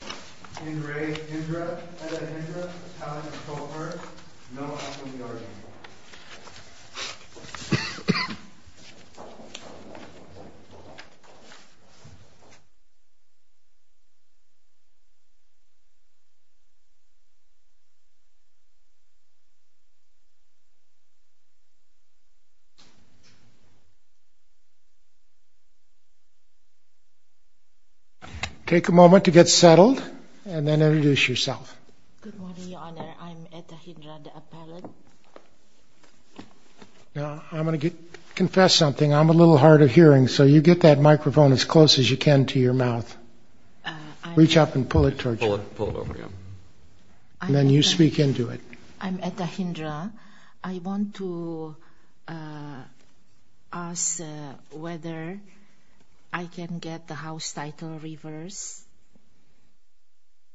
May I have reference to someone like Indra, Head of Hindra Talent, Kohler? No, what was the order again? Take a moment to get settled and then introduce yourself. Good morning, Your Honor. I'm Etta Hindra, the appellant. Now, I'm going to confess something. I'm a little hard of hearing, so you get that microphone as close as you can to your mouth. Reach up and pull it toward you. Pull it over, yeah. And then you speak into it. I'm Etta Hindra. I want to ask whether I can get the House title reversed,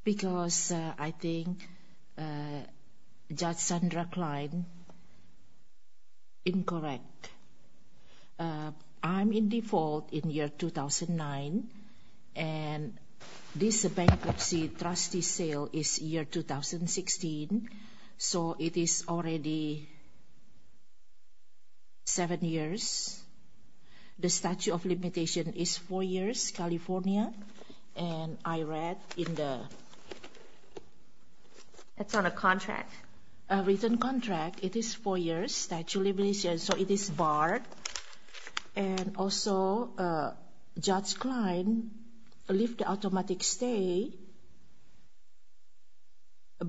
because I think Judge Sandra Klein is incorrect. I'm in default in year 2009, and this bankruptcy trustee sale is year 2016, so it is already seven years. The statute of limitation is four years, California, and I read in the... That's on a contract. A written contract, it is four years, statute of limitation, so it is barred. And also, Judge Klein left the automatic stay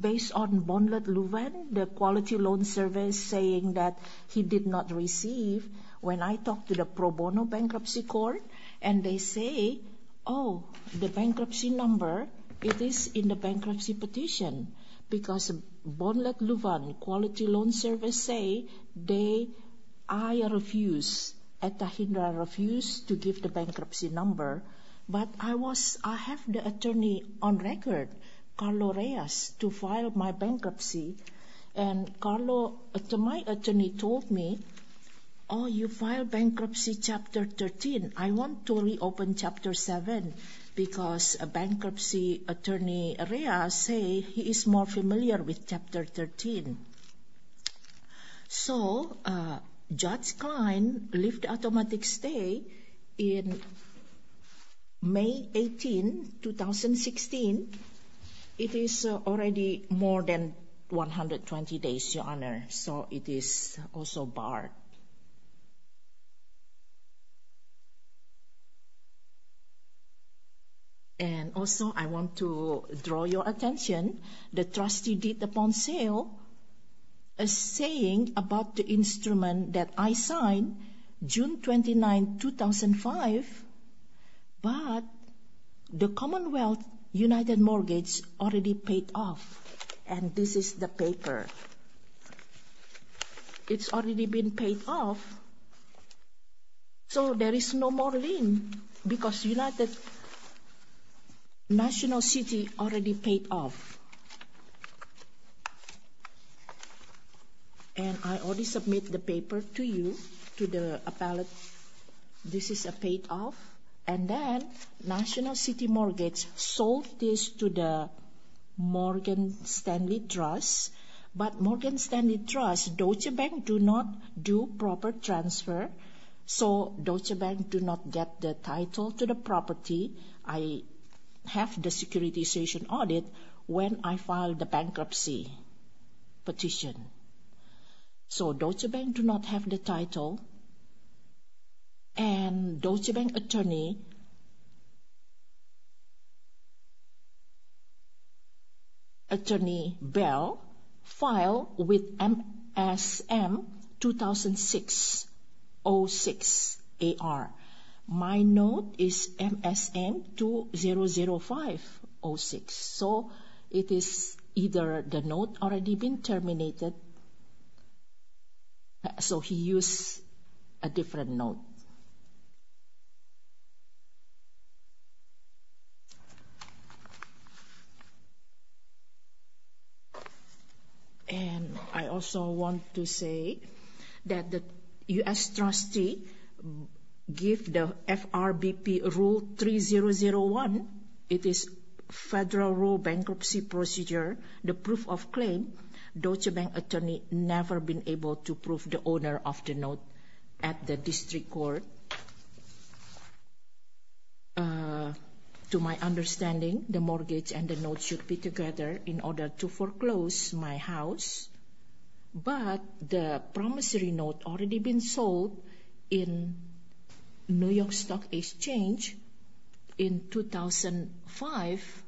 based on Bonded Luven, the quality loan service, saying that he did not receive when I talked to the pro bono bankruptcy court, and they say, oh, the bankruptcy number, it is in the bankruptcy petition, because Bonded Luven quality loan service say they... I refuse, Etta Hindra refuse to give the bankruptcy number, but I was... I have the attorney on record, Carlo Reyes, to file my bankruptcy, and Carlo... because bankruptcy attorney Reyes say he is more familiar with Chapter 13. So, Judge Klein left automatic stay in May 18, 2016. It is already more than 120 days, Your Honor, so it is also barred. And also, I want to draw your attention. The trustee did upon sale a saying about the instrument that I signed, June 29, 2005, but the Commonwealth United Mortgage already paid off, and this is the paper. It's already been paid off, so there is no more lien, because United National City already paid off. And I already submit the paper to you, to the appellate. This is paid off, and then National City Mortgage sold this to the Morgan Stanley Trust, but Morgan Stanley Trust, Deutsche Bank do not do proper transfer, so Deutsche Bank do not get the title to the property. I have the securitization audit when I filed the bankruptcy petition. So, Deutsche Bank do not have the title, and Deutsche Bank attorney... file with MSM-2006-06-AR. My note is MSM-2005-06, so it is either the note already been terminated, so he use a different note. And I also want to say that the U.S. trustee give the FRBP Rule 3001, it is Federal Rule Bankruptcy Procedure, the proof of claim. Deutsche Bank attorney never been able to prove the owner of the note at the district court. So, to my understanding, the mortgage and the note should be together in order to foreclose my house, but the promissory note already been sold in New York Stock Exchange in 2005,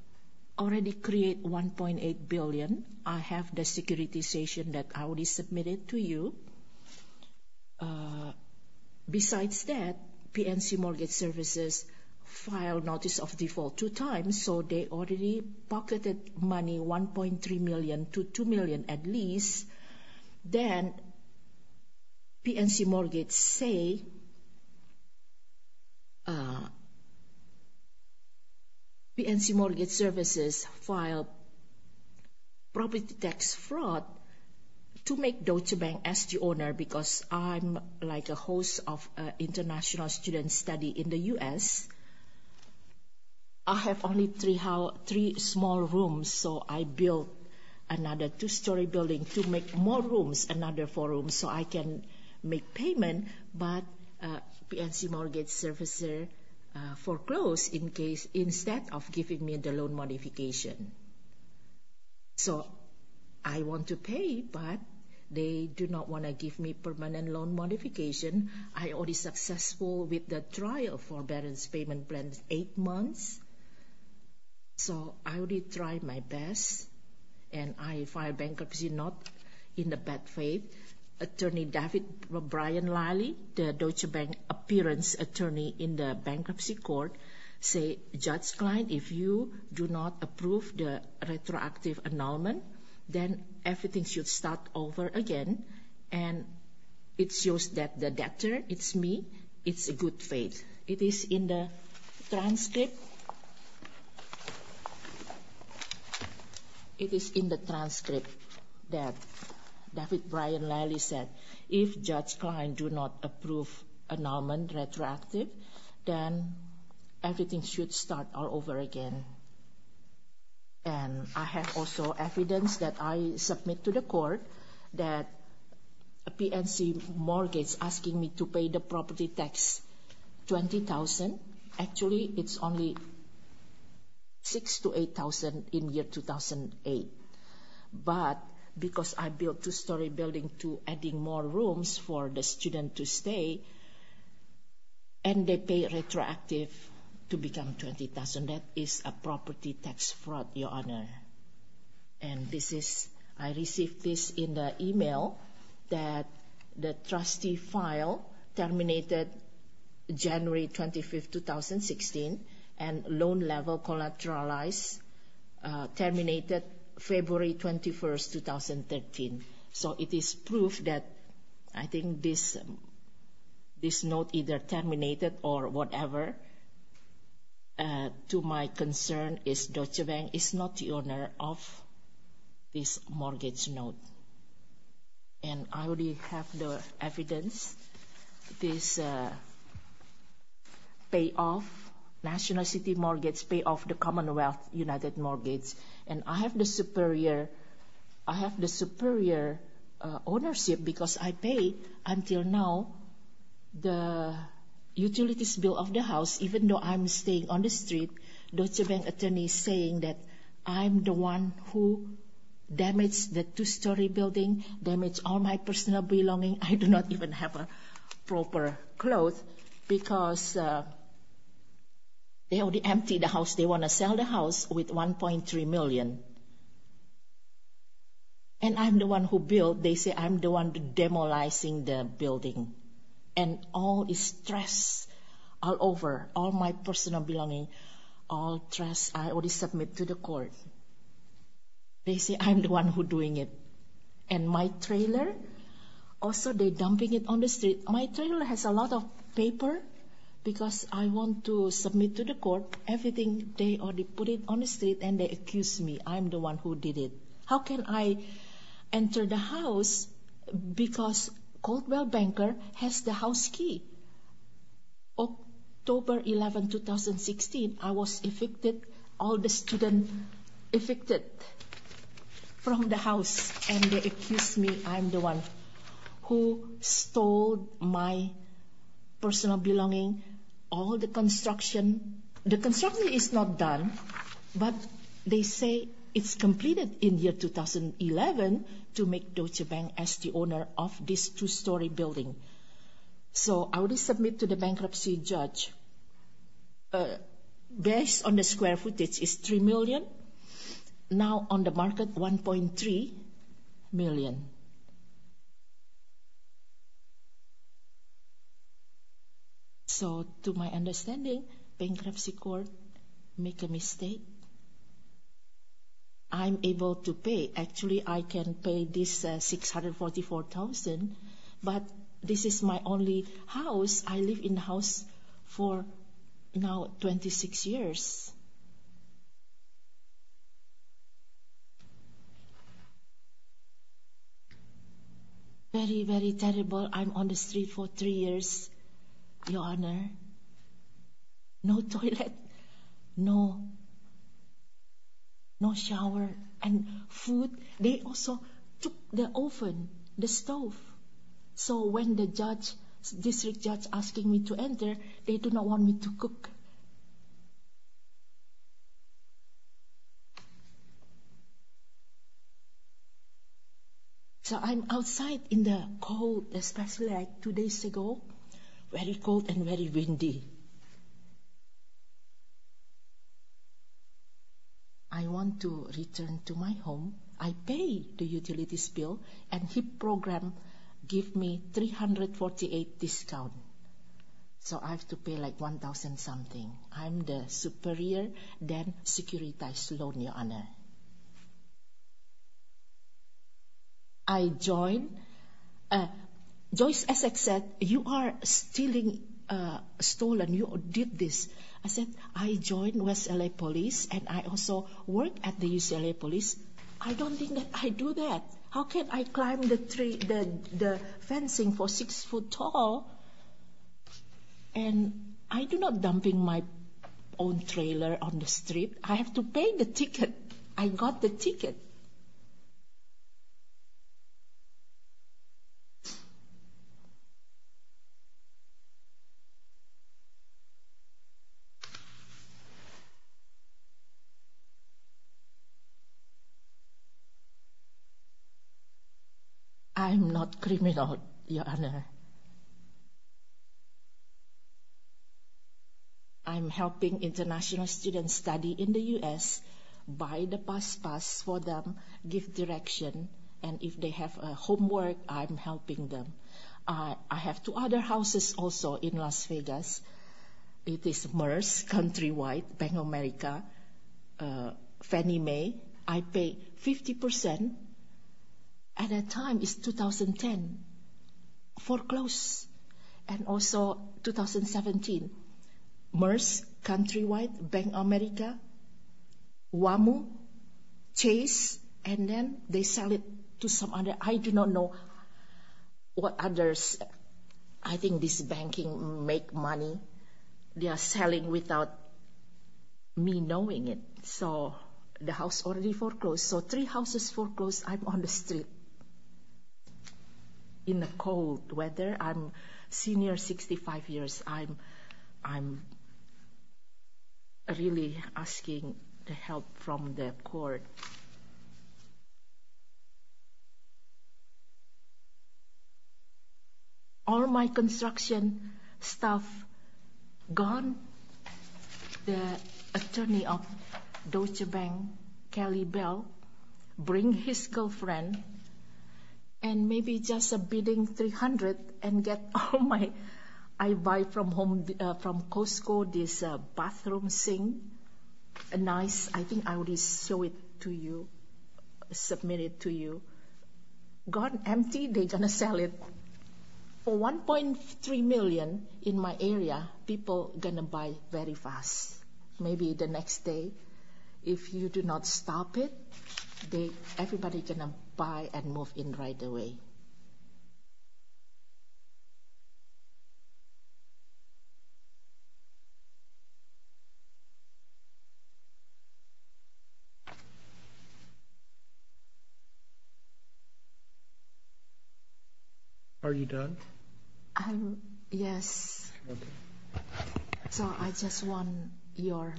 already create 1.8 billion. I have the securitization that I already submitted to you. Besides that, PNC Mortgage Services filed notice of default two times, so they already pocketed money 1.3 million to 2 million at least. Then, PNC Mortgage Services filed property tax fraud to make Deutsche Bank as the owner because I'm like a host of international student study in the U.S. I have only three small rooms, so I built another two-story building to make more rooms, another four rooms, so I can make payment, but PNC Mortgage Services foreclosed instead of giving me the loan modification. So, I want to pay, but they do not want to give me permanent loan modification. I already successful with the trial for balance payment plan eight months, so I already tried my best, and I filed bankruptcy note in the bad faith. Attorney David Brian Liley, the Deutsche Bank appearance attorney in the bankruptcy court, said, Judge Klein, if you do not approve the retroactive annulment, then everything should start over again, and it shows that the debtor, it's me, it's a good faith. It is in the transcript that David Brian Liley said, if Judge Klein do not approve annulment retroactive, then everything should start all over again, and I have also evidence that I submit to the court that a PNC mortgage asking me to pay the property tax $20,000. Actually, it's only $6,000 to $8,000 in year 2008, but because I built two-story building to adding more rooms for the student to stay, and they pay retroactive to become $20,000. That is a property tax fraud, Your Honor, and I received this in the email that the trustee file terminated January 25, 2016, and loan level collateralized terminated February 21, 2013. So it is proof that I think this note either terminated or whatever. To my concern is Deutsche Bank is not the owner of this mortgage note, and I already have the evidence. It is pay off national city mortgage, pay off the Commonwealth United mortgage, and I have the superior ownership because I paid until now the utilities bill of the house. Even though I'm staying on the street, Deutsche Bank attorney saying that I'm the one who damaged the two-story building, damaged all my personal belonging. I do not even have proper clothes because they already emptied the house. They want to sell the house with $1.3 million, and I'm the one who built. And all this trash all over, all my personal belonging, all trash, I already submit to the court. They say I'm the one who doing it. And my trailer, also they dumping it on the street. My trailer has a lot of paper because I want to submit to the court everything. They already put it on the street, and they accuse me. I'm the one who did it. How can I enter the house because Caldwell Banker has the house key. October 11, 2016, I was evicted, all the students evicted from the house, and they accused me I'm the one who stole my personal belonging, all the construction. The construction is not done, but they say it's completed in year 2011 to make Deutsche Bank as the owner of this two-story building. So I already submit to the bankruptcy judge. Based on the square footage, it's $3 million. Now on the market, $1.3 million. So to my understanding, bankruptcy court make a mistake. I'm able to pay. Actually, I can pay this $644,000, but this is my only house. I live in the house for now 26 years. Very, very terrible. I'm on the street for three years, Your Honor. No toilet, no shower, and food. They also took the oven, the stove. So when the district judge asking me to enter, they do not want me to cook. So I'm outside in the cold, especially like two days ago, very cold and very windy. I want to return to my home. I pay the utilities bill, and he program give me $348 discount. So I have to pay like $1,000 something. I'm the superior, then securitized loan, Your Honor. I joined. Joyce Essex said, you are stealing, stolen. You did this. I said, I joined West LA Police, and I also work at the UCLA Police. I don't think that I do that. How can I climb the fencing for six foot tall? And I do not dumping my own trailer on the street. I have to pay the ticket. I got the ticket. I'm helping international students study in the U.S. Buy the bus pass for them, give direction, and if they have homework, I'm helping them. I have two other houses also in Las Vegas. It is MERS countrywide, Bank of America, Fannie Mae. I pay 50%. At that time, it's 2010, foreclosed. And also 2017, MERS countrywide, Bank of America, WAMU, Chase, and then they sell it to some other. I do not know what others. I think this banking make money. They are selling without me knowing it. So the house already foreclosed. So three houses foreclosed. I'm on the street in the cold weather. I'm senior, 65 years. I'm really asking the help from the court. All my construction stuff gone. The attorney of Deutsche Bank, Kelly Bell, bring his girlfriend and maybe just a bidding 300 and get all my I buy from Costco this bathroom sink. Nice. I think I already show it to you, submit it to you. Gone empty. They're going to sell it. For 1.3 million in my area, people going to buy very fast. Maybe the next day, if you do not stop it, everybody going to buy and move in right away. Thank you. Are you done? Yes. So I just want your.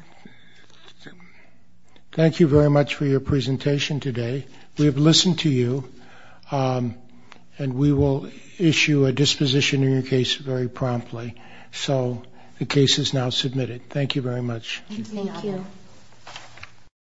Thank you very much for your presentation today. We have listened to you and we will issue a disposition in your case very promptly. So the case is now submitted. Thank you.